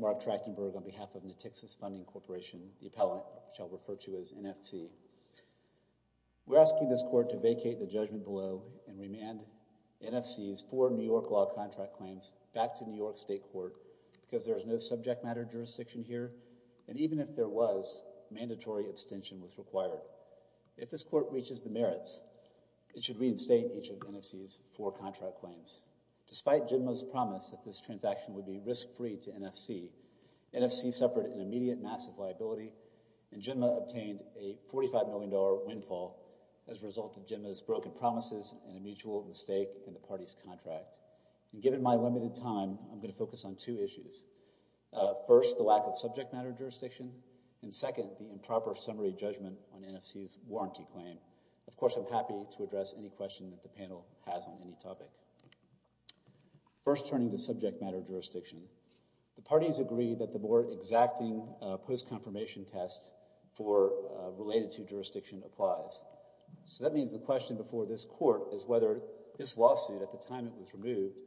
Mark Trachtenberg on behalf of Nitixis Funding Corporation, the appellant which I'll refer to as NFC. We're asking this court to vacate the judgment below and remand NFC's four New York law contract claims back to New York State Court because there is no subject matter jurisdiction here and, even if there was, mandatory abstention was required. If this court reaches the merits, it should reinstate each of NFC's four contract claims. Despite GENMA's promise that this transaction would be risk-free to NFC, NFC suffered an immediate massive liability and GENMA obtained a $45 million windfall as a result of GENMA's broken promises and a mutual mistake in the party's contract. Given my limited time, I'm going to focus on two issues. First, the lack of subject matter jurisdiction, and second, the improper summary judgment on NFC's warranty claim. Of course, I'm happy to address any question that the panel has on any topic. First turning to subject matter jurisdiction, the parties agree that the board exacting post-confirmation test for related to jurisdiction applies, so that means the question before this court is whether this lawsuit, at the time it was removed,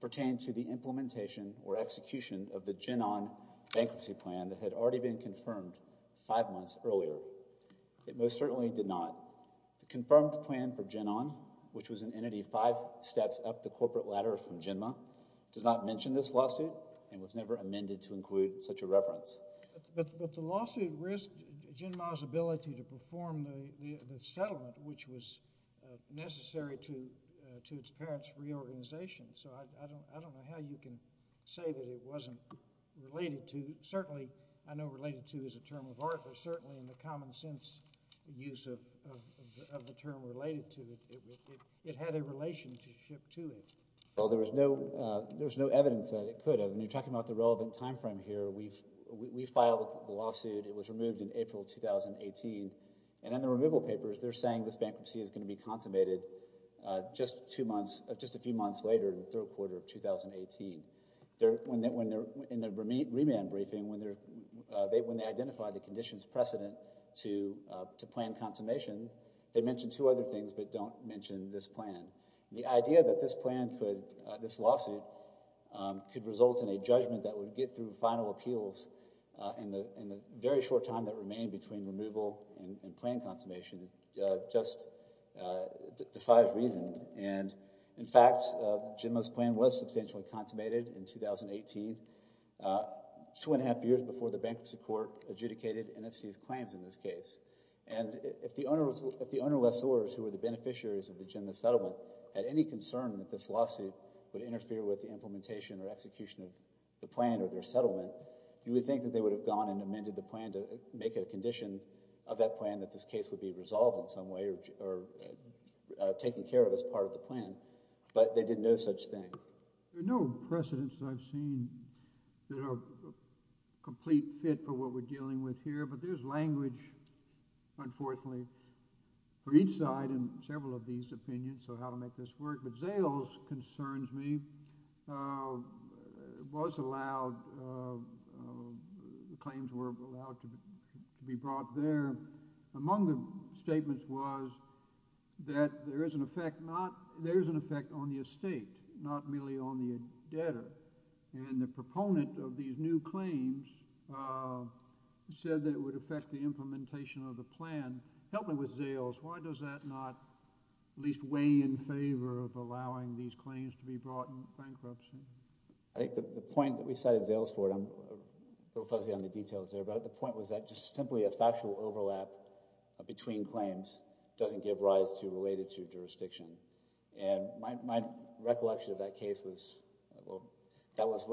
pertained to the implementation or execution of the GENON bankruptcy plan that had already been confirmed five months earlier. It most certainly did not. The confirmed plan for GENON, which was an entity five steps up the corporate ladder from GENMA, does not mention this lawsuit and was never amended to include such a reference. But the lawsuit risked GENMA's ability to perform the settlement which was necessary to its parents' reorganization, so I don't know how you can say that it wasn't related to. Certainly, I know related to is a term of art, but certainly in the common sense use of the term related to, it had a relationship to it. Well, there was no evidence that it could have, and you're talking about the relevant time frame here. We filed the lawsuit. It was removed in April 2018, and in the removal papers, they're saying this bankruptcy is going to be consummated just a few months later, in the third quarter of 2018. In the remand briefing, when they identified the conditions precedent to plan consummation, they mentioned two other things but don't mention this plan. The idea that this plan could, this lawsuit, could result in a judgment that would get through final appeals in the very short time that remained between removal and plan consummation just defies reason, and in fact, JEMMA's plan was substantially consummated in 2018, two and a half years before the bankruptcy court adjudicated NFC's claims in this case, and if the ownerless owners who were the beneficiaries of the JEMMA settlement had any concern that this lawsuit would interfere with the implementation or execution of the plan or their settlement, you would think that they would have gone and amended the plan to make it a condition of that plan that this case would be resolved in some way or taken care of as part of the plan, but they did no such thing. There are no precedents that I've seen that are a complete fit for what we're dealing with here, but there's language, unfortunately, for each side in several of these opinions, so how to make this work, but Zales concerns me. It was allowed, the claims were allowed to be brought there. Among the statements was that there is an effect not, there is an effect on the estate, not merely on the debtor, and the proponent of these new claims said that it would affect the implementation of the plan. Help me with Zales, why does that not at least weigh in I think the point that we cited Zales for, I'm a little fuzzy on the details there, but the point was that just simply a factual overlap between claims doesn't give rise to related to jurisdiction, and my recollection of that case was, well, that was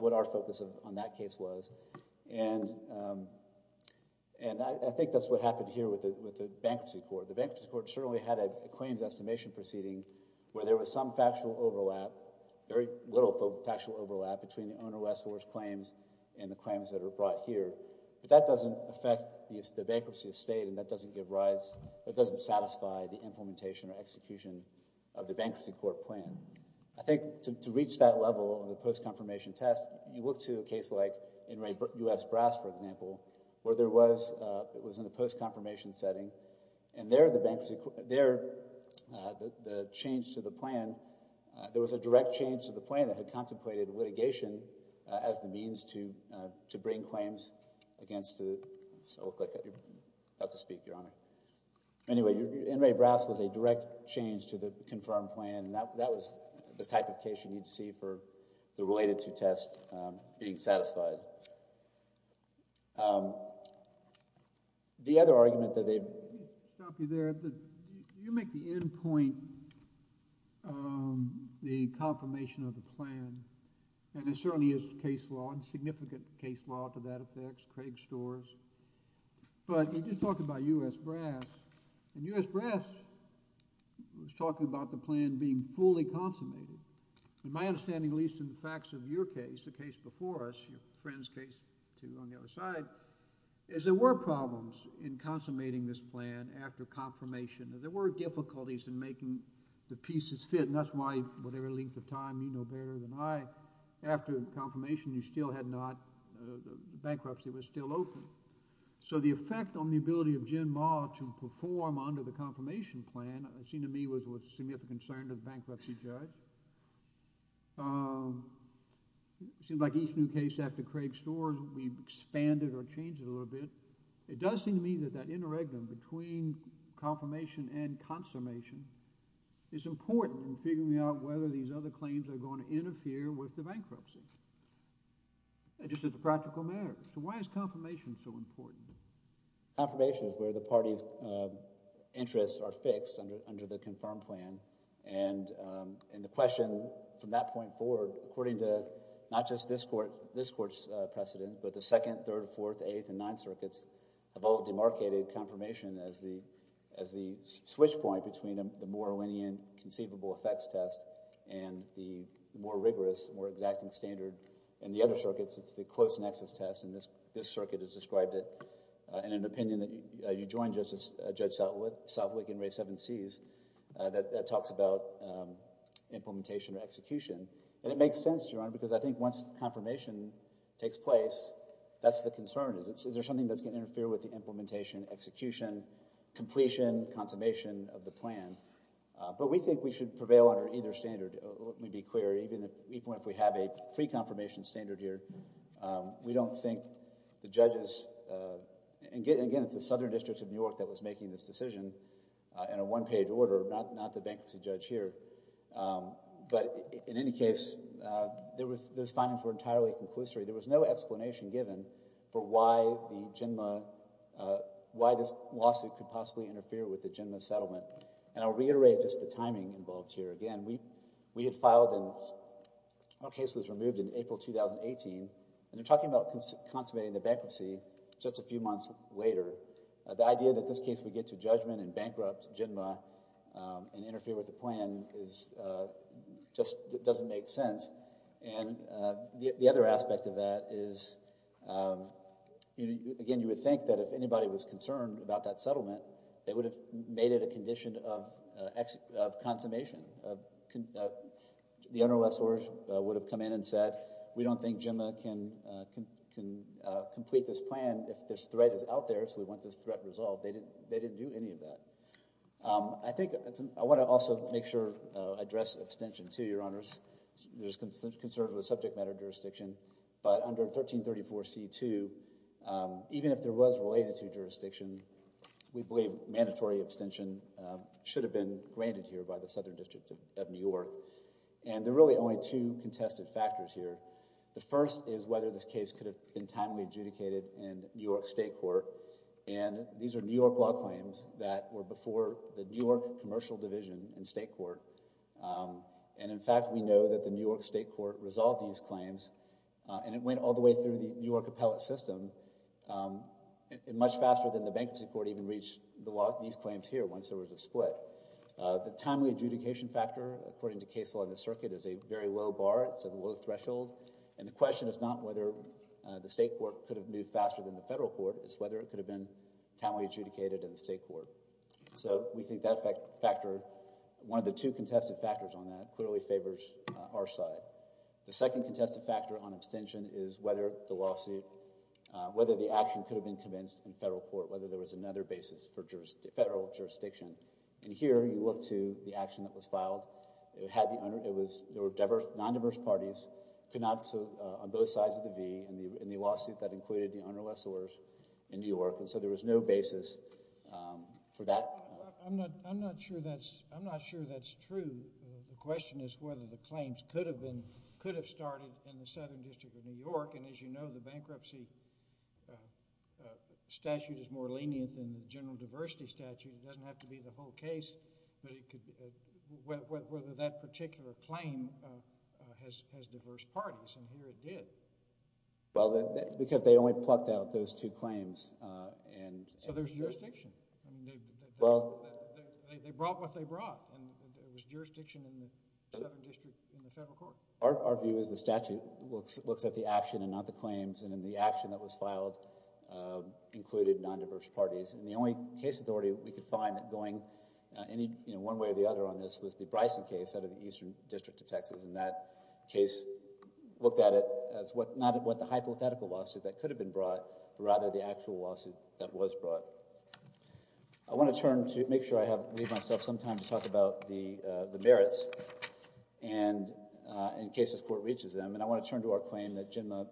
what our focus on that case was, and I think that's what happened here with the bankruptcy court. The bankruptcy court certainly had a claims estimation proceeding where there was some factual overlap, very little factual overlap between the owner lessor's claims and the claims that are brought here, but that doesn't affect the bankruptcy estate, and that doesn't give rise, that doesn't satisfy the implementation or execution of the bankruptcy court plan. I think to reach that level of the post-confirmation test, you look to a case like Enright U.S. Brass, for example, where there was, it was in the post-confirmation setting, and there the bank, there the change to the plan, there was a direct change to the plan that had contemplated litigation as the means to bring claims against the, so look like you're about to speak, Your Honor. Anyway, Enright Brass was a direct change to the confirmed plan, and that was the type of case you need to see for the related to test being satisfied. But the other argument that they... Let me stop you there. You make the end point, the confirmation of the plan, and it certainly is case law, and significant case law to that effect, Craig Storrs, but you're just talking about U.S. Brass, and U.S. Brass was talking about the plan being fully consummated. In my understanding, at least in the facts of your case, the case before us, your friend's case, too, on the other side, is there were problems in consummating this plan after confirmation. There were difficulties in making the pieces fit, and that's why whatever length of time you know better than I, after confirmation, you still had not, the bankruptcy was still open. So the effect on the ability of Jim Ma to perform under the confirmation plan, it seemed to me, was of significant concern to the bankruptcy judge. It seems like each new case after Craig Storrs, we've expanded or changed it a little bit. It does seem to me that that interregnum between confirmation and consummation is important in figuring out whether these other claims are going to interfere with the bankruptcy, and just as a practical matter. So why is confirmation so important? Confirmation is where the party's interests are fixed under the confirmed plan, and the question from that point forward, according to not just this court's precedent, but the second, third, fourth, eighth, and ninth circuits have all demarcated confirmation as the switch point between the more lenient conceivable effects test and the more rigorous, more exacting standard. In the other circuits, it's the close nexus test, and this circuit has described it in an opinion that you joined, Judge Southwick, in Rae 7Cs, that talks about implementation or execution. And it makes sense, Your Honor, because I think once confirmation takes place, that's the concern. Is there something that's going to interfere with the implementation, execution, completion, consummation of the plan? But we think we have a pre-confirmation standard here. We don't think the judges, and again, it's the Southern District of New York that was making this decision in a one-page order, not the bankruptcy judge here. But in any case, those findings were entirely conclusory. There was no explanation given for why the JNMA, why this lawsuit could possibly interfere with the JNMA settlement. And I'll reiterate just the timing involved here. Again, we had filed and our case was removed in April 2018, and they're talking about consummating the bankruptcy just a few months later. The idea that this case would get to judgment and bankrupt JNMA and interfere with the plan just doesn't make sense. And the other aspect of that is, again, you would think that if anybody was concerned about that settlement, they would have made it a condition of consummation. The under-law source would have come in and said, we don't think JNMA can complete this plan if this threat is out there, so we want this threat resolved. They didn't do any of that. I think I want to also make sure, address abstention too, Your Honors. There's concerns with subject matter jurisdiction, but under 1334 C.2, even if there was related to jurisdiction, we believe mandatory abstention should have been granted here by the Southern District of New York. And there are really only two contested factors here. The first is whether this case could have been timely adjudicated in New York State Court. And these are New York law claims that were before the New York Commercial Division in State Court. And in fact, we know that the New York State Court resolved these claims, and it went all the way through the New York appellate system and much faster than the Bankruptcy Court even reached the law, these claims here, once there was a split. The timely adjudication factor, according to case law in the circuit, is a very low bar. It's a low threshold. And the question is not whether the State Court could have moved faster than the Federal Court. It's whether it could have been timely adjudicated in the State Court. So we think that factor, one of the two contested factors on that, clearly favors our side. The second contested factor on abstention is whether the lawsuit, whether the action could have been commenced in Federal Court, whether there was another basis for federal jurisdiction. And here you look to the action that was filed. There were non-diverse parties on both sides of the V in the lawsuit that included the unrules orders in New York. And so there was no basis for that. I'm not sure that's true. The question is whether the claims could have started in the Southern District of New York. And as you know, the bankruptcy statute is more lenient than the general diversity statute. It doesn't have to be the whole case, but it could, whether that particular claim has diverse parties. And here it did. Well, because they only plucked out those two claims. So there's jurisdiction. They brought what they brought. And there was jurisdiction in the Southern District in the Federal Court. Our view is the statute looks at the action and not the claims. And in the action that was filed included non-diverse parties. And the only case authority we could find that going any one way or the other on this was the Bryson case out of the Eastern District of Texas. And that case looked at it as not what the hypothetical lawsuit that could have been brought, but rather the actual lawsuit that was brought. I want to turn to make sure I leave myself some time to talk about the merits and in case this Court reaches them. And I want to turn to our claim that GENMA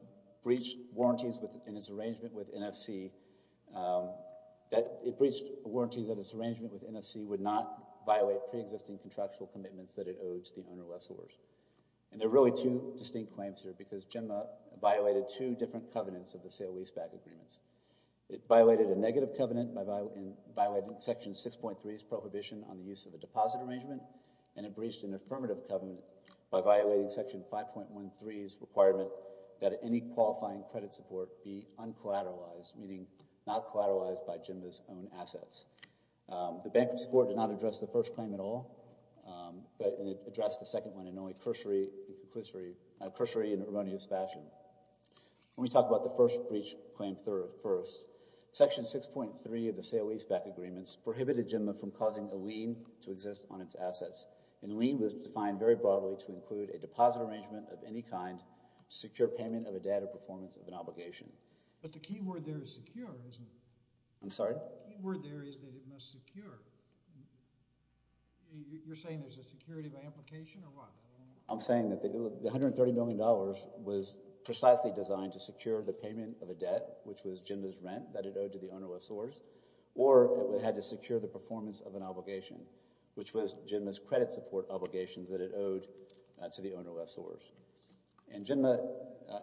breached warranties in its arrangement with NFC. That it breached warranties that its arrangement with NFC would not violate pre-existing contractual commitments that it owed to the owner-less owners. And there are really two distinct claims here because GENMA violated two different covenants of the sale-leaseback agreements. It violated a prohibition on the use of a deposit arrangement and it breached an affirmative covenant by violating Section 5.13's requirement that any qualifying credit support be uncollateralized, meaning not collateralized by GENMA's own assets. The Bank of Support did not address the first claim at all, but it addressed the second one in only cursory and erroneous fashion. When we talk about the first breach claim first, Section 6.3 of the sale-leaseback agreements prohibited GENMA from causing a lien to exist on its assets. And a lien was defined very broadly to include a deposit arrangement of any kind to secure payment of a debt or performance of an obligation. But the key word there is secure, isn't it? I'm sorry? The key word there is that it must secure. You're saying there's a security of application or what? I'm saying that the $130 million was precisely designed to secure the payment of a debt, which was GENMA's rent that it owed to the owner of SORS, or it had to secure the performance of an obligation, which was GENMA's credit support obligations that it owed to the owner of SORS. And GENMA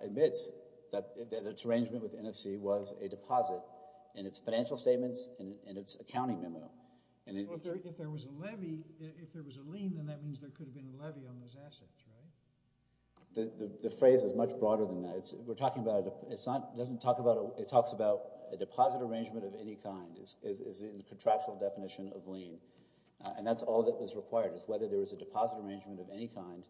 admits that its arrangement with NFC was a deposit in its financial statements and in its accounting memo. If there was a levy, if there was a lien, then that means there could have been a levy on those assets, right? The phrase is much broader than that. We're talking about, it doesn't talk about, it talks about a deposit arrangement of any kind is in the contractual definition of lien. And that's all that was required is whether there was a deposit arrangement of any kind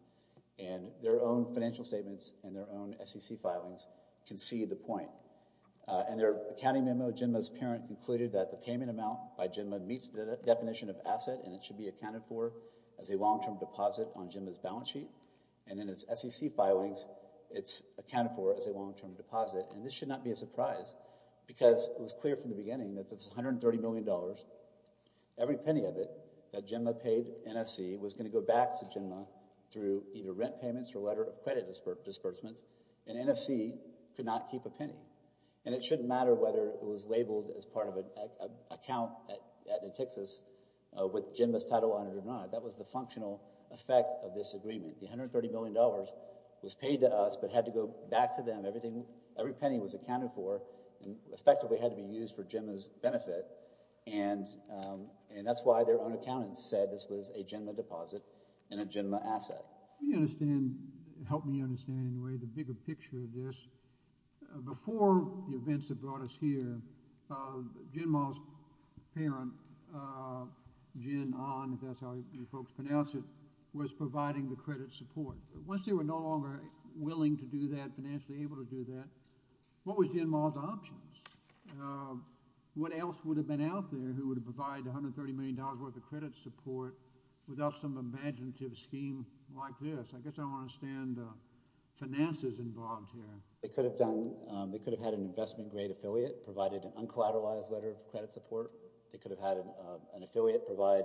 and their own financial statements and their own SEC filings can see the point. And their accounting memo, GENMA's parent concluded that the payment amount by GENMA meets the definition of asset and it should be accounted for as a long-term deposit on GENMA's balance sheet. And in its SEC filings, it's accounted for as a long-term deposit. And this should not be a surprise because it was clear from the beginning that it's $130 million, every penny of it that GENMA paid NFC was going to go back to GENMA through either rent payments or letter of credit disbursements. And NFC could not keep a penny. And it shouldn't matter whether it was labeled as part of an account at NETXAS with GENMA's title on it or not. That was the functional effect of this agreement. The $130 million was paid to us, but had to go back to GENMA. Every penny was accounted for and effectively had to be used for GENMA's benefit. And that's why their own accountants said this was a GENMA deposit and a GENMA asset. Can you understand, help me understand in a way, the bigger picture of this? Before the events that brought us here, GENMA's parent, Jin Ahn, if that's how you folks pronounce it, was providing the credit support. Once they were no longer willing to do that financially, able to do that, what was GENMA's options? What else would have been out there who would have provided $130 million worth of credit support without some imaginative scheme like this? I guess I don't understand finances involved here. They could have done, they could have had an investment-grade affiliate, provided an uncollateralized letter of credit support. They could have had an affiliate provide,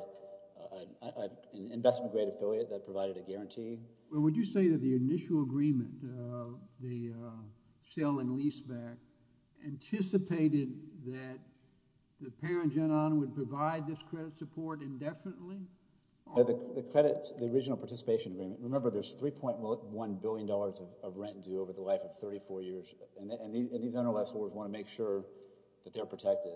an investment-grade affiliate that provided a sale and lease back. Anticipated that the parent, Jin Ahn, would provide this credit support indefinitely? The credits, the original participation agreement, remember there's $3.1 billion of rent due over the life of 34 years. And these under-lessors want to make sure that they're protected.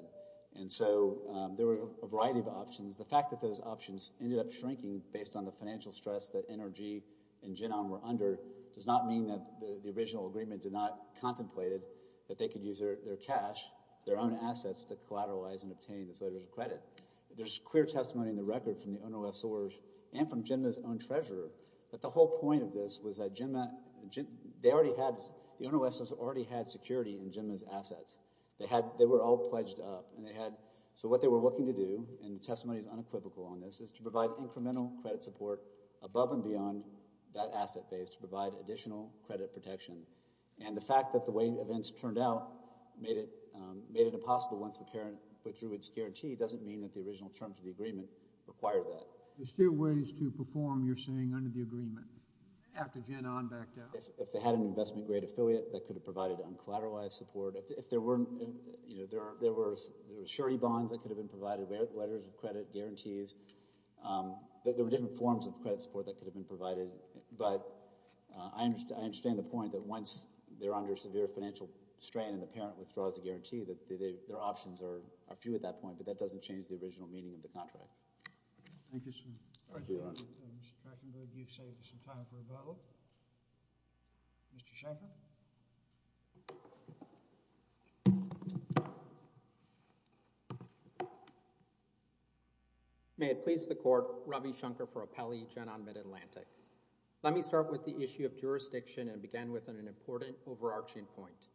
And so there were a variety of options. The fact that those options ended up shrinking based on the financial stress that NRG and Jin Ahn were under does not mean that the original agreement did not contemplate it, that they could use their cash, their own assets to collateralize and obtain this letter of credit. There's clear testimony in the record from the under-lessors and from GENMA's own treasurer that the whole point of this was that GENMA, they already had, the under-lessors already had security in GENMA's assets. They had, they were all pledged up and they had, so what they were looking to do, and the testimony is unequivocal on this, is to provide incremental credit support above and beyond that asset base to provide additional credit protection. And the fact that the way events turned out made it made it impossible once the parent withdrew its guarantee doesn't mean that the original terms of the agreement required that. There's still ways to perform, you're saying, under the agreement after Jin Ahn backed out. If they had an investment-grade affiliate that could have provided uncollateralized support, if there weren't, you know, there were surety bonds that could have been provided, letters of credit, guarantees, there were different forms of credit support that I understand. I understand the point that once they're under severe financial strain and the parent withdraws a guarantee that their options are few at that point, but that doesn't change the original meaning of the contract. Thank you, sir. Mr. Krachenberg, you've saved us some time for a bottle. Mr. Shanker. May it please the court, Ravi Shankar for Appelli, Jin Ahn, Mid-Atlantic. Let me start with the issue of jurisdiction and begin with an important overarching point.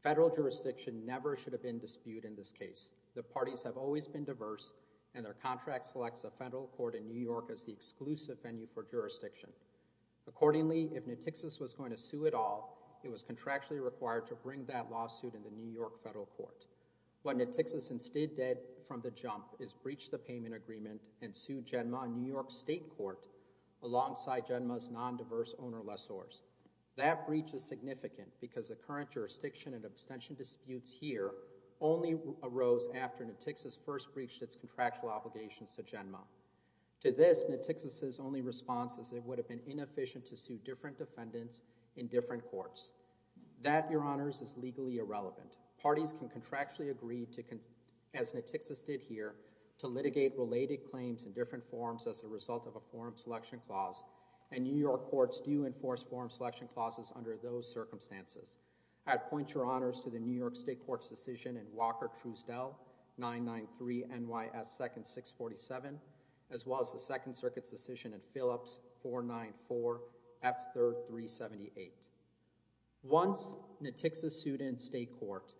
Federal jurisdiction never should have been disputed in this case. The parties have always been diverse and their contract selects a federal court in New York as the exclusive venue for jurisdiction. Accordingly, if New Texas was going to sue it all, it would have to be in New York. It was contractually required to bring that lawsuit in the New York federal court. What New Texas instead did from the jump is breach the payment agreement and sue Genma in New York state court alongside Genma's non-diverse owner lessors. That breach is significant because the current jurisdiction and abstention disputes here only arose after New Texas first breached its contractual obligations to Genma. To this, New Texas's only response is it would have been That, your honors, is legally irrelevant. Parties can contractually agree to, as New Texas did here, to litigate related claims in different forms as a result of a forum selection clause, and New York courts do enforce forum selection clauses under those circumstances. I'd point your honors to the New York state court's decision in Walker-Trustel 993 NYS 2nd 647 as well as the Second Circuit's decision in Phillips 494 F3rd 378. Once New Texas sued in state court,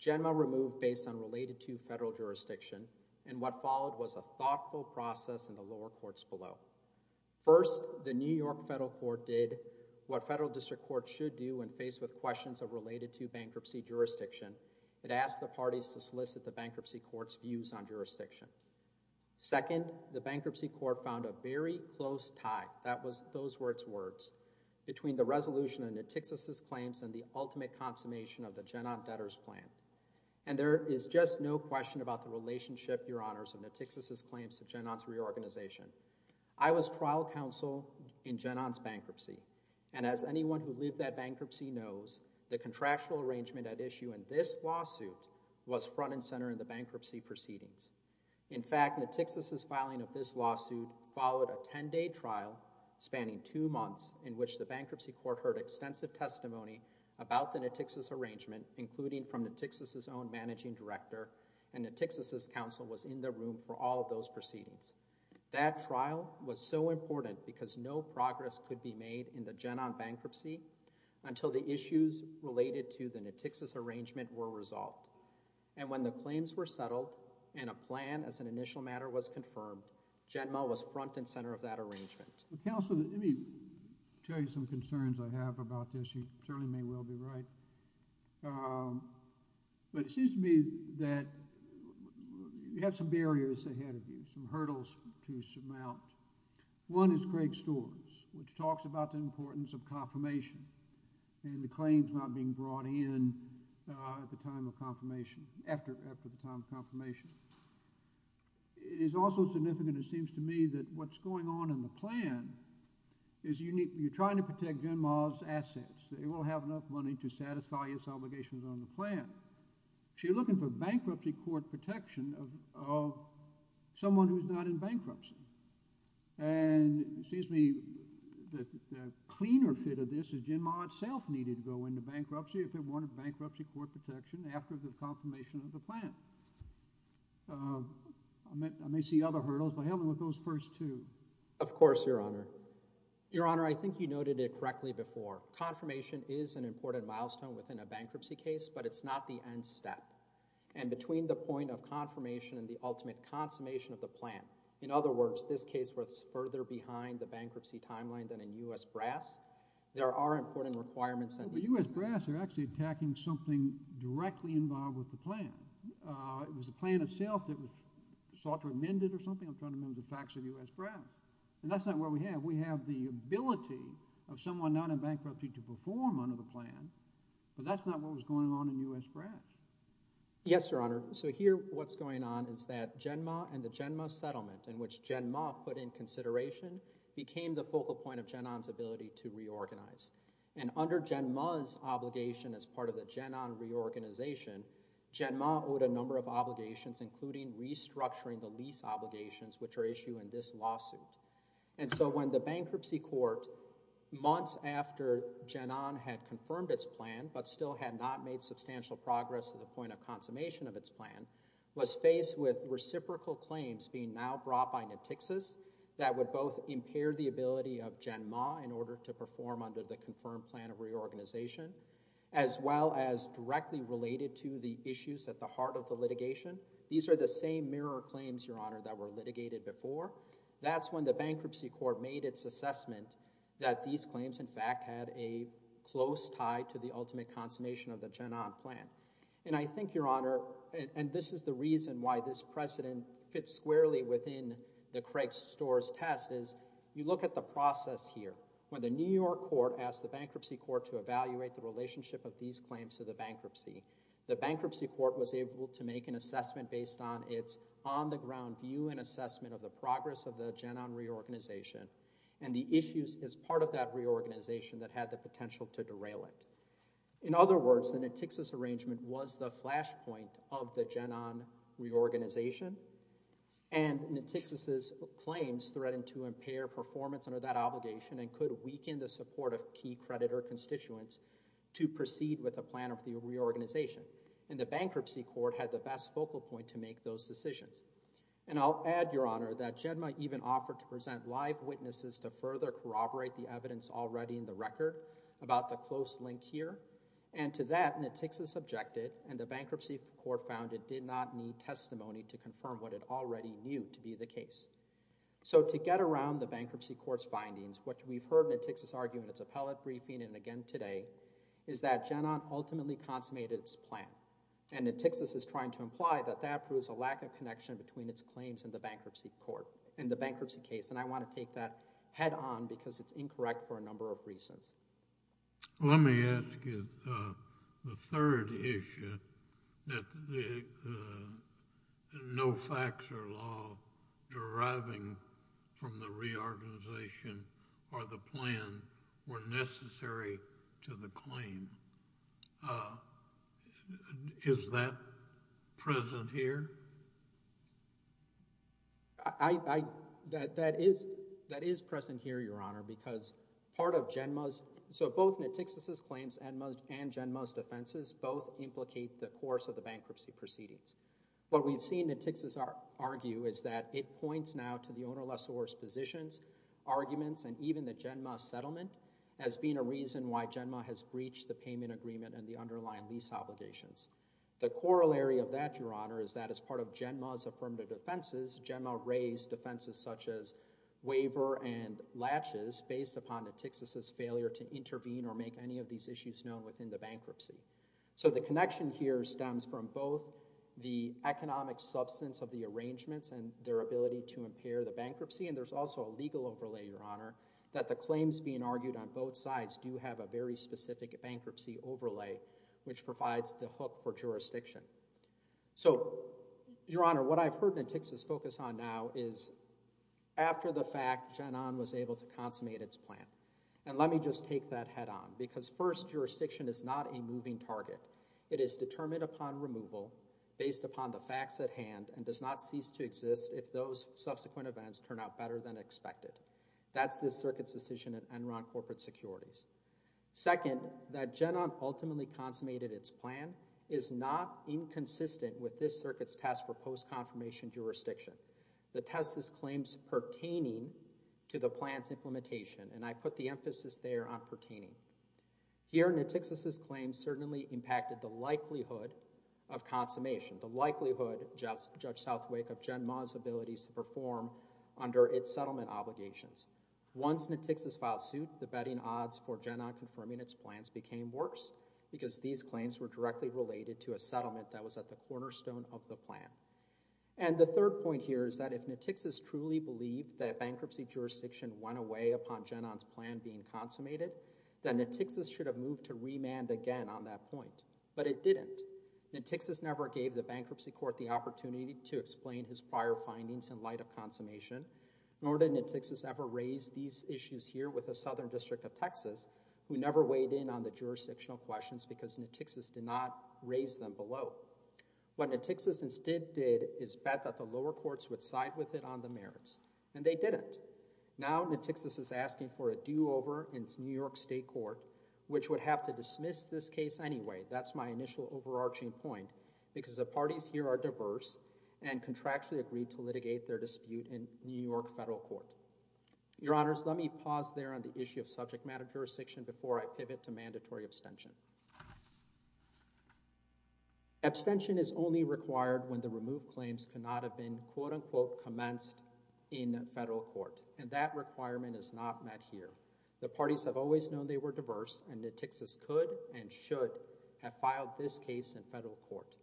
Genma removed based on related to federal jurisdiction, and what followed was a thoughtful process in the lower courts below. First, the New York federal court did what federal district courts should do when faced with questions of related to bankruptcy jurisdiction. It asked the parties to solicit the bankruptcy court's views on jurisdiction. Second, the bankruptcy court found a very close tie, that was those were its words, between the resolution of New Texas's claims and the ultimate consummation of the Genon debtors plan. And there is just no question about the relationship, your honors, of New Texas's claims to Genon's reorganization. I was trial counsel in Genon's bankruptcy, and as anyone who lived that bankruptcy knows, the contractual arrangement at issue in this lawsuit was front and center in the bankruptcy proceedings. In fact, New Texas's filing of this lawsuit followed a 10-day trial spanning two months in which the bankruptcy court heard extensive testimony about the New Texas arrangement, including from New Texas's own managing director, and New Texas's counsel was in the room for all of those proceedings. That trial was so important because no progress could be made in the Genon bankruptcy until the issues related to the New Texas arrangement were resolved. And when the claims were settled and a plan as an initial matter was confirmed, Genma was front and center of that arrangement. Counselor, let me tell you some concerns I have about this. You certainly may well be right. But it seems to me that you have some barriers ahead of you, some hurdles to surmount. One is Craig Storrs, which talks about the importance of confirmation and the claims not being brought in at the time of confirmation, after the time of confirmation. It is also significant, it seems to me, that what's going on in the plan is you're trying to protect Genma's assets. They won't have enough money to satisfy his obligations on the plan. You're looking for bankruptcy court protection of someone who's not in bankruptcy. And it seems to me that the cleaner fit of this Genma itself needed to go into bankruptcy if it wanted bankruptcy court protection after the confirmation of the plan. I may see other hurdles, but help me with those first two. Of course, Your Honor. Your Honor, I think you noted it correctly before. Confirmation is an important milestone within a bankruptcy case, but it's not the end step. And between the point of confirmation and the ultimate consummation of the plan, in other words, this case was further behind the bankruptcy timeline than in U.S. Brass. There are important requirements. U.S. Brass are actually attacking something directly involved with the plan. It was the plan itself that was sought to amend it or something. I'm trying to remember the facts of U.S. Brass. And that's not what we have. We have the ability of someone not in bankruptcy to perform under the plan, but that's not what was going on in U.S. Brass. Yes, Your Honor. So here what's going on is that Genma and the Genma settlement, in which Genma put in consideration, became the focal point of Genon's ability to reorganize. And under Genma's obligation as part of the Genon reorganization, Genma owed a number of obligations, including restructuring the lease obligations, which are issue in this lawsuit. And so when the bankruptcy court, months after Genon had confirmed its plan but still had not made substantial progress to the point of consummation of its plan, was faced with reciprocal claims being now brought by Natixis that would both impair the ability of Genma in order to perform under the confirmed plan of reorganization, as well as directly related to the issues at the heart of the litigation. These are the same mirror claims, Your Honor, that were litigated before. That's when the bankruptcy court made its assessment that these claims, in fact, had a close tie to the ultimate consummation of the Genon plan. And I think, Your Honor, and this is the reason why this precedent fits squarely within the Craig Storrs test, is you look at the process here. When the New York court asked the bankruptcy court to evaluate the relationship of these claims to the bankruptcy, the bankruptcy court was able to make an assessment based on its on-the-ground view and assessment of the progress of the Genon reorganization and the issues as part of that reorganization that had the potential to derail it. In other words, the Natixis arrangement was the flashpoint of the Genon reorganization, and Natixis' claims threatened to impair performance under that obligation and could weaken the support of key creditor constituents to proceed with the plan of the reorganization. And the bankruptcy court had the best focal point to make those decisions. And I'll add, Your Honor, that Genma even offered to present live witnesses to further corroborate the evidence already in the record about the close link here, and to that Natixis objected, and the bankruptcy court found it did not need testimony to confirm what it already knew to be the case. So to get around the bankruptcy court's findings, what we've heard Natixis argue in its appellate briefing and again today, is that Genon ultimately consummated its plan, and Natixis is trying to imply that that proves a lack of connection between its claims and the bankruptcy court, and the bankruptcy case, and I want to take that head-on because it's incorrect for a number of reasons. Let me ask you the third issue, that the no facts or law deriving from the reorganization or the plan were necessary to the claim. Is that present here? I, I, that, that is, that is present here, Your Honor, because part of Genma's, so both Natixis' claims and Genma's defenses both implicate the course of the bankruptcy proceedings. What we've seen Natixis argue is that it points now to the owner lessor's positions, arguments, and even the Genma settlement as being a reason why Genma has breached the payment agreement and the underlying lease obligations. The corollary of that, Your Honor, is that as part of Genma's affirmative defenses, Genma raised defenses such as waiver and latches based upon Natixis' failure to intervene or make any of these issues known within the bankruptcy. So the connection here stems from both the economic substance of the arrangements and their ability to impair the bankruptcy, and there's also a legal overlay, Your Honor, that the claims being argued on both sides do have a very specific bankruptcy overlay, which provides the hook for jurisdiction. So, Your Honor, what I've heard Natixis focus on now is after the fact, Genma was able to consummate its plan. And let me just take that head on, because first, jurisdiction is not a moving target. It is determined upon removal based upon the facts at hand and does not cease to exist if those subsequent events turn out better than expected. That's this circuit's decision at Enron Corporate Securities. Second, that Genma ultimately consummated its plan is not inconsistent with this circuit's task for post-confirmation jurisdiction. The test is claims pertaining to the plan's implementation, and I put the emphasis there on pertaining. Here, Natixis' claims certainly impacted the likelihood of consummation, the likelihood, Judge Southwake, of Genma's abilities to perform under its settlement obligations. Once Natixis filed suit, the betting odds for Genma confirming its plans became worse because these claims were directly related to a settlement that was at the cornerstone of the plan. And the third point here is that if Natixis truly believed that bankruptcy jurisdiction went away upon Genma's plan being consummated, then Natixis should have moved to remand again on that point, but it didn't. Natixis never gave the bankruptcy court the opportunity to explain his prior findings in light of consummation, nor did Natixis ever raise these issues here with the Southern District of Texas, who never weighed in on the jurisdictional questions because Natixis did not raise them below. What Natixis instead did is bet that the lower courts would side with it on the merits, and they didn't. Now Natixis is asking for a do-over in New York State Court, which would have to dismiss this case anyway. That's my initial overarching point, because the parties here are diverse and contractually agreed to litigate their dispute in New York Federal Court. Your Honors, let me pause there on the issue of subject matter jurisdiction before I pivot to mandatory abstention. Abstention is only required when the removed claims cannot have been quote-unquote commenced in federal court, and that requirement is not met here. The parties have always known they were diverse, and Natixis could and should have filed this case in federal court.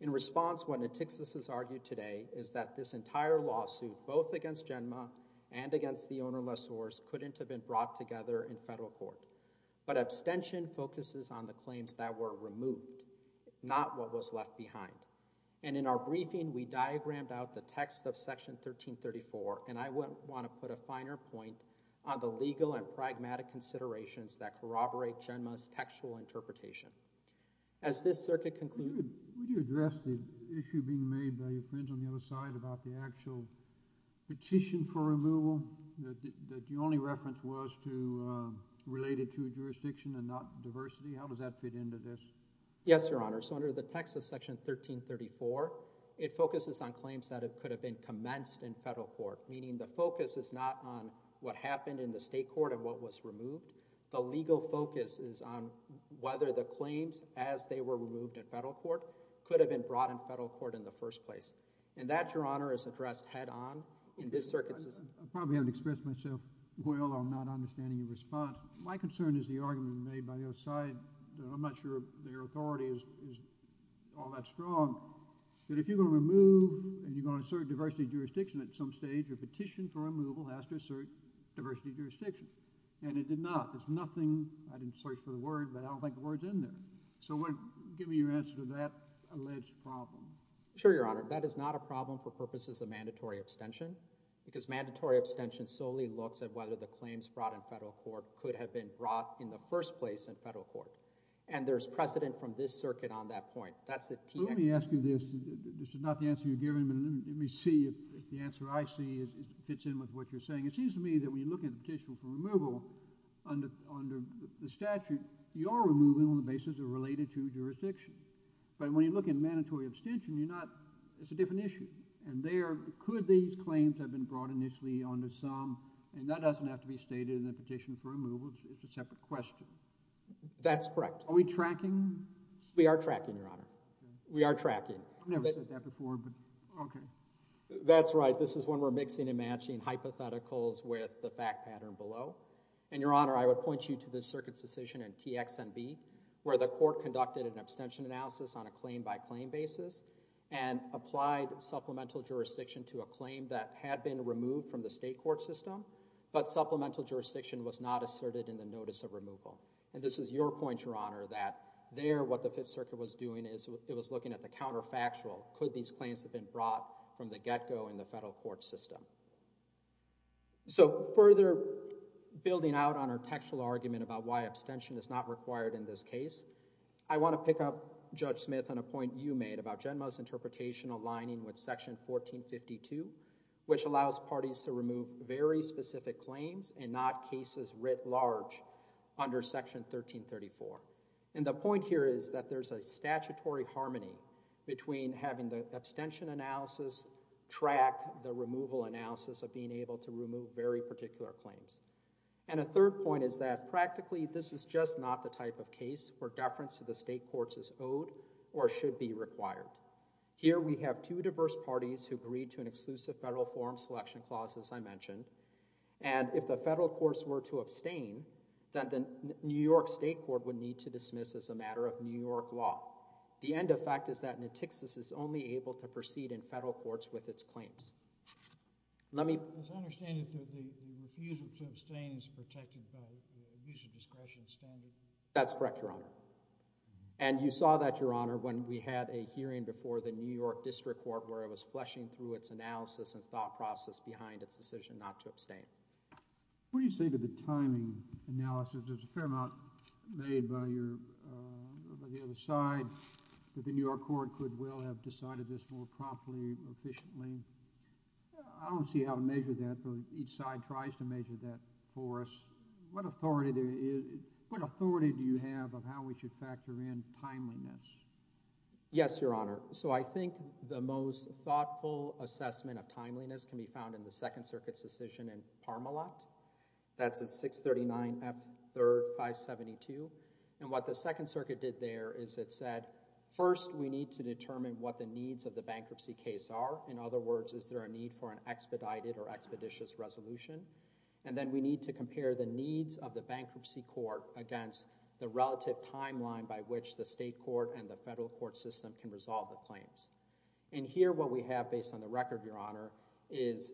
In response, what Natixis has argued today is that this entire lawsuit, both against GENMA and against the owner-less oars, couldn't have been brought together in federal court. But abstention focuses on the claims that were removed, not what was left behind. And in our briefing, we diagrammed out the text of Section 1334, and I wouldn't want to put a finer point on the legal and pragmatic considerations that corroborate GENMA's textual interpretation. As this circuit concludes... Would you address the issue being made by your friends on the other side about the actual petition for removal that the only reference was to related to jurisdiction and not diversity? How does that fit into this? Yes, Your Honor. So under the text of Section 1334, it focuses on claims that it could have commenced in federal court, meaning the focus is not on what happened in the state court and what was removed. The legal focus is on whether the claims, as they were removed in federal court, could have been brought in federal court in the first place. And that, Your Honor, is addressed head-on in this circuit. I probably haven't expressed myself well on not understanding your response. My concern is the argument made by the other side. I'm not sure their authority is all that strong, that if you're going to remove and you're going assert diversity jurisdiction at some stage, your petition for removal has to assert diversity jurisdiction. And it did not. There's nothing... I didn't search for the word, but I don't think the word's in there. So give me your answer to that alleged problem. Sure, Your Honor. That is not a problem for purposes of mandatory abstention because mandatory abstention solely looks at whether the claims brought in federal court could have been brought in the first place in federal court. And there's precedent from this circuit on that point. Let me ask you this. This is not the answer you're giving, but let me see if the answer I see fits in with what you're saying. It seems to me that when you look at the petition for removal under the statute, you are removing on the basis of related to jurisdiction. But when you look at mandatory abstention, you're not... It's a different issue. And there, could these claims have been brought initially under some... And that doesn't have to be stated in the petition for removal. It's a separate question. That's correct. Are we tracking? We are tracking, Your Honor. We are tracking. I've never said that before, but... Okay. That's right. This is when we're mixing and matching hypotheticals with the fact pattern below. And Your Honor, I would point you to the circuit's decision in TXNB, where the court conducted an abstention analysis on a claim by claim basis and applied supplemental jurisdiction to a claim that had been removed from the state court system, but supplemental jurisdiction was not asserted in the notice of removal. And this is your point, Your Honor, that there, what the Fifth Circuit was doing is it was looking at the counterfactual. Could these claims have been brought from the get-go in the federal court system? So further building out on our textual argument about why abstention is not required in this case, I want to pick up, Judge Smith, on a point you made about Genma's interpretation aligning with Section 1452, which allows parties to remove very specific claims and not cases writ large under Section 1334. And the point here is that there's a statutory harmony between having the abstention analysis track the removal analysis of being able to remove very particular claims. And a third point is that practically this is just not the type of case where deference to the state courts is owed or should be required. Here we have two diverse parties who agreed to an exclusive federal forum selection clause, as I mentioned, and if the federal courts were to abstain, then the New York State Court would need to dismiss as a matter of New York law. The end effect is that Natixis is only able to proceed in federal courts with its claims. Let me... As I understand it, the refusal to abstain is protected by user discretion standard? That's correct, Your Honor. And you saw that, Your Honor, when we had a hearing before the New York District Court, where it was fleshing through its analysis and thought process behind its decision not to abstain. What do you say to the timing analysis? There's a fair amount made by your... by the other side that the New York Court could well have decided this more promptly, efficiently. I don't see how to measure that, but each side tries to measure that for us. What authority there is... What authority do you have of how we should factor in timeliness? Yes, Your Honor. So I think the most thoughtful assessment of timeliness can be found in the Second Circuit's decision in Parmalat. That's at 639 F 3rd 572. And what the Second Circuit did there is it said, first, we need to determine what the needs of the bankruptcy case are. In other words, is there a need for an expedited or expeditious resolution? And then we need to determine whether or not the court and the federal court system can resolve the claims. And here, what we have, based on the record, Your Honor, is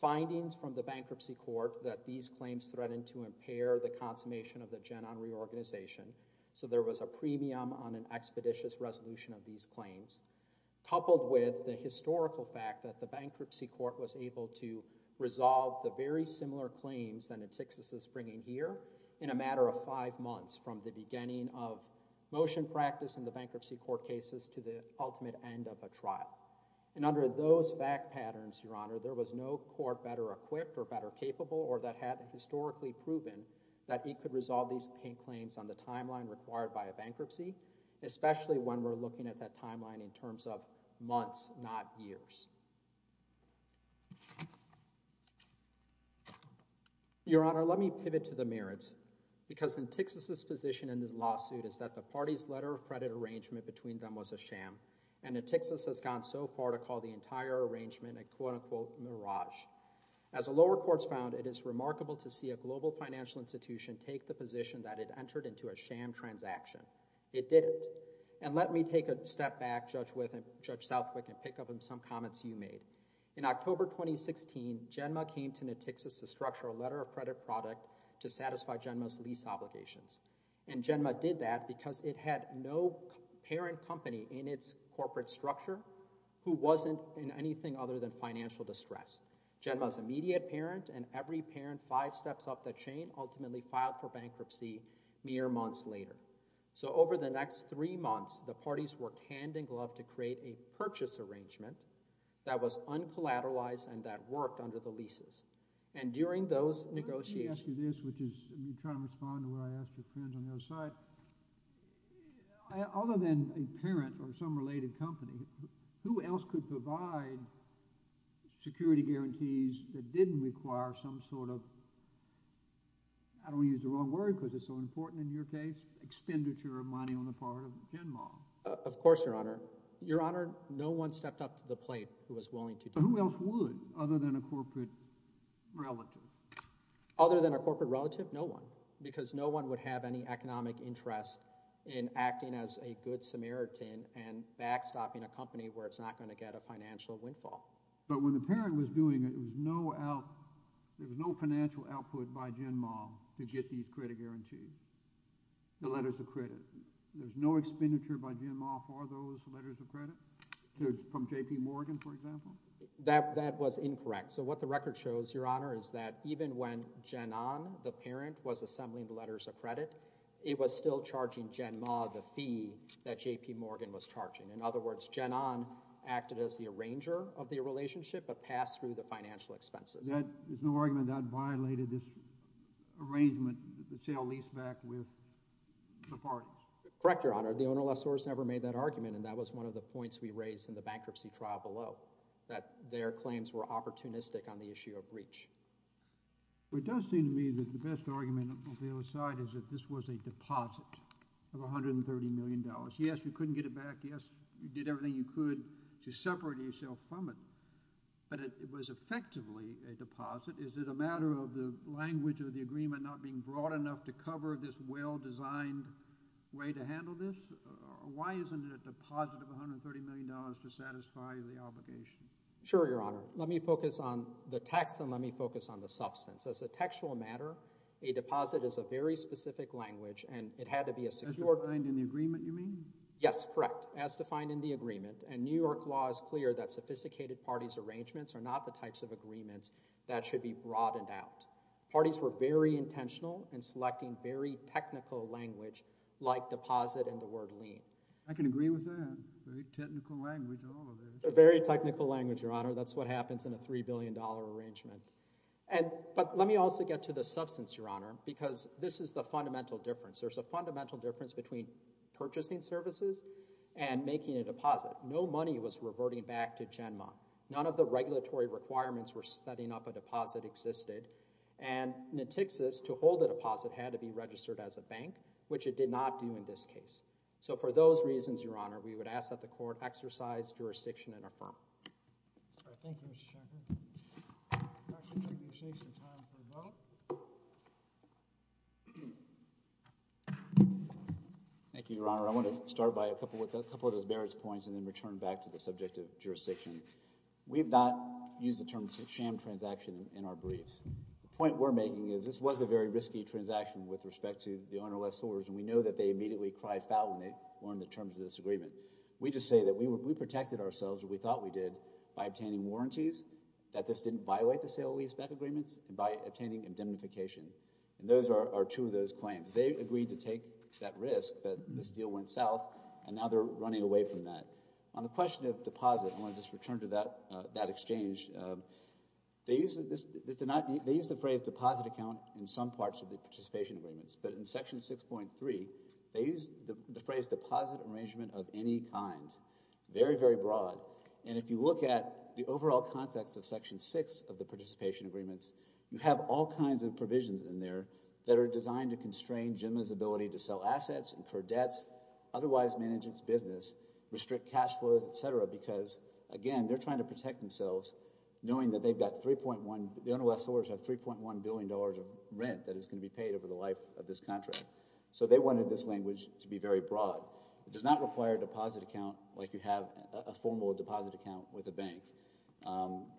findings from the bankruptcy court that these claims threatened to impair the consummation of the Gen On Reorganization. So there was a premium on an expeditious resolution of these claims, coupled with the historical fact that the bankruptcy court was able to resolve the very similar claims that Antixis is bringing here in a matter of five months, from the beginning of motion practice in the bankruptcy court cases to the ultimate end of a trial. And under those fact patterns, Your Honor, there was no court better equipped or better capable or that had historically proven that it could resolve these claims on the timeline required by a bankruptcy, especially when we're looking at that timeline in the case. Your Honor, let me pivot to the merits, because Antixis' position in this lawsuit is that the party's letter of credit arrangement between them was a sham, and Antixis has gone so far to call the entire arrangement a, quote-unquote, mirage. As the lower courts found, it is remarkable to see a global financial institution take the position that it entered into a sham transaction. It didn't. And let me take a step back, Judge Wythe and Judge Southwick, and pick some comments you made. In October 2016, Genma came to Antixis to structure a letter of credit product to satisfy Genma's lease obligations. And Genma did that because it had no parent company in its corporate structure who wasn't in anything other than financial distress. Genma's immediate parent and every parent five steps up the chain ultimately filed for bankruptcy mere months later. So over the next three months, the parties worked hand-in-glove to create a purchase arrangement that was uncollateralized and that worked under the leases. And during those negotiations... Let me ask you this, which is, I'm trying to respond to what I asked your friends on the other side. Other than a parent or some related company, who else could provide security guarantees that didn't require some sort of, I don't want to use the wrong word because it's so important in your case, expenditure of money on the part of Genma? Of course, your honor. Your honor, no one stepped up to the plate who was willing to do it. Who else would other than a corporate relative? Other than a corporate relative, no one. Because no one would have any economic interest in acting as a good Samaritan and backstopping a company where it's not going to get a financial windfall. But when the parent was doing it, it was no out, there was no financial output by Genma to get these credit guarantees, the letters of credit. There's no expenditure by Genma for those letters of credit, from J.P. Morgan, for example? That was incorrect. So what the record shows, your honor, is that even when Genon, the parent, was assembling the letters of credit, it was still charging Genma the fee that J.P. Morgan was charging. In other words, Genon acted as the arranger of the relationship but passed through the financial expenses. There's no argument that violated this arrangement, the sale-lease-back with the parties? Correct, your honor. The owner-less source never made that argument, and that was one of the points we raised in the bankruptcy trial below, that their claims were opportunistic on the issue of breach. It does seem to me that the best argument on the other side is that this was a deposit of $130 million. Yes, you couldn't get it back. Yes, you did everything you could to separate yourself from it, but it was effectively a deposit. Is it a matter of the language of the agreement not being broad enough to cover this well-designed way to handle this? Why isn't it a deposit of $130 million to satisfy the obligation? Sure, your honor. Let me focus on the text, and let me focus on the substance. As a textual matter, a deposit is a very specific language, and it had to be a secure— As defined in the agreement, you mean? Yes, correct. As defined in the agreement, and New York law is clear that sophisticated parties' arrangements are not the types of agreements that should be broadened out. Parties were very intentional in selecting very technical language like deposit and the word lien. I can agree with that. Very technical language, all of it. Very technical language, your honor. That's what happens in a $3 billion arrangement. But let me also get to the substance, your honor, because this is the fundamental difference. There's a fundamental difference between purchasing services and making a deposit. No money was reverting back to Genmont. None of the regulatory requirements were setting up a deposit existed. And in Texas, to hold a deposit had to be registered as a bank, which it did not do in this case. So for those reasons, your honor, we would ask that the court exercise jurisdiction and affirm. All right. Thank you, Mr. Shanker. Thank you, your honor. I want to start by a couple of those merits points and then return back to the subject of jurisdiction. We have not used the term sham transaction in our briefs. The point we're making is this was a very risky transaction with respect to the ownerless holders, and we know that they immediately cried foul when they learned the terms of this agreement. We just say that we protected ourselves, we thought we did, by obtaining warranties, that this didn't violate the sale-lease-back agreements, and by obtaining indemnification. And those are two of those claims. They agreed to take that risk, that this deal went south, and now they're running away from that. On the question of deposit, I want to just return to that exchange. They use the phrase deposit account in some parts of the participation agreements. But in Section 6.3, they use the phrase deposit arrangement of any kind. Very, very broad. And if you look at the overall context of Section 6 of the participation agreements, you have all kinds of provisions in there that are designed to constrain GEMA's ability to sell assets, incur debts, otherwise manage its business, restrict cash flows, etc., because, again, they're trying to protect themselves knowing that they've got 3.1, the ownerless holders have 3.1 billion dollars of rent that is going to be paid over the life of this contract. So they wanted this language to be very broad. It does not require a deposit account like you have a formal deposit account with a bank.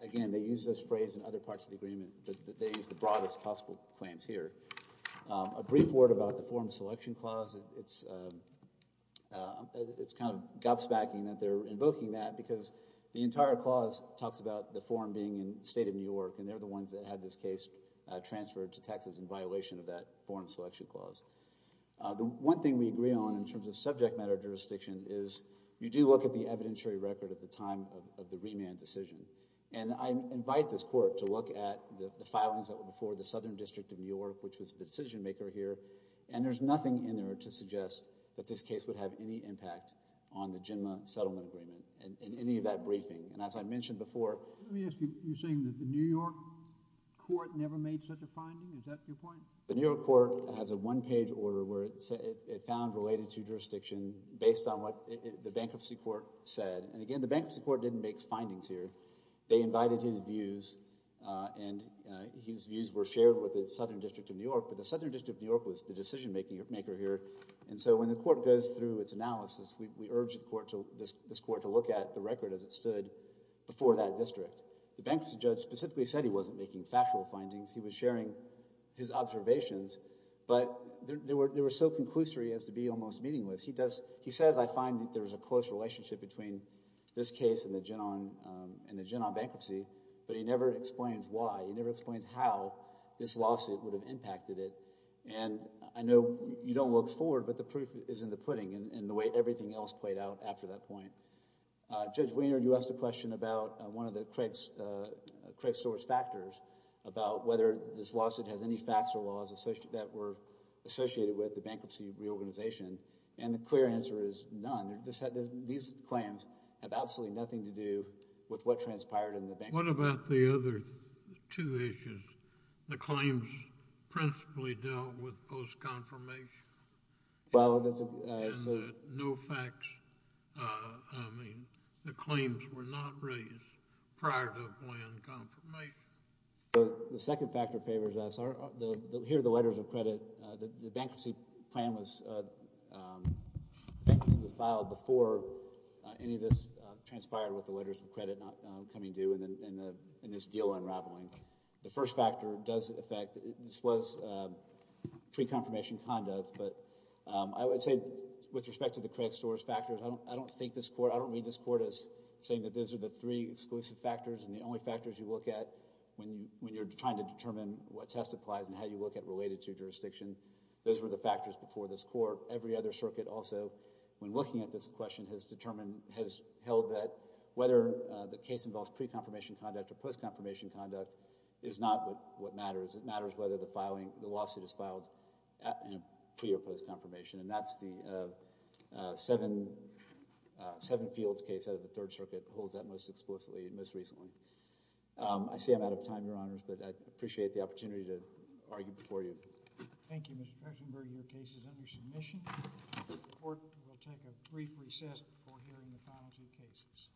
Again, they use this phrase in other parts of the agreement, but they use the broadest possible claims here. A brief word about the Foreign Selection Clause, it's kind of gobsmacking that they're invoking that because the entire clause talks about the foreign being in the state of New York, and they're the ones that had this case transferred to Texas in violation of that Foreign Selection Clause. The one thing we agree on in terms of subject matter jurisdiction is you do look at the evidentiary record at the time of the remand decision, and I invite this Court to look at the filings that were before the Southern District of New York, which was the decision maker here, and there's nothing in there to suggest that this case would have any impact on the GEMA settlement agreement and any of that briefing, and as I mentioned before... Let me ask you, you're saying that the New York Court never made such a finding? Is that your point? The New York Court has a one-page order it found related to jurisdiction based on what the Bankruptcy Court said, and again, the Bankruptcy Court didn't make findings here. They invited his views, and his views were shared with the Southern District of New York, but the Southern District of New York was the decision maker here, and so when the Court goes through its analysis, we urge this Court to look at the record as it stood before that district. The Bankruptcy Judge specifically said he wasn't making factual findings. He was sharing his observations, but they were so conclusory as to be almost meaningless. He does... He says, I find that there's a close relationship between this case and the Genon Bankruptcy, but he never explains why. He never explains how this lawsuit would have impacted it, and I know you don't look forward, but the proof is in the pudding and the way everything else played out after that point. Judge Wiener, you asked a about whether this lawsuit has any facts or laws that were associated with the bankruptcy reorganization, and the clear answer is none. These claims have absolutely nothing to do with what transpired in the bank. What about the other two issues? The claims principally dealt with post-confirmation. Well, there's no facts. I mean, the claims were not raised prior to a planned confirmation. The second factor favors us. Here are the letters of credit. The bankruptcy plan was filed before any of this transpired with the letters of credit not coming due and this deal unraveling. The first factor does affect... This was pre-confirmation conduct, but I would say with respect to the credit storage factors, I don't think this exclusive factors and the only factors you look at when you're trying to determine what test applies and how you look at related to jurisdiction. Those were the factors before this court. Every other circuit also, when looking at this question, has held that whether the case involves pre-confirmation conduct or post-confirmation conduct is not what matters. It matters whether the lawsuit is filed pre- or post-confirmation, and that's the Seven Fields case out of the Third Circuit holds that most explicitly and most recently. I see I'm out of time, Your Honors, but I appreciate the opportunity to argue before you. Thank you, Mr. Kestenberg. Your case is under submission. The court will take a brief recess before hearing the final two cases.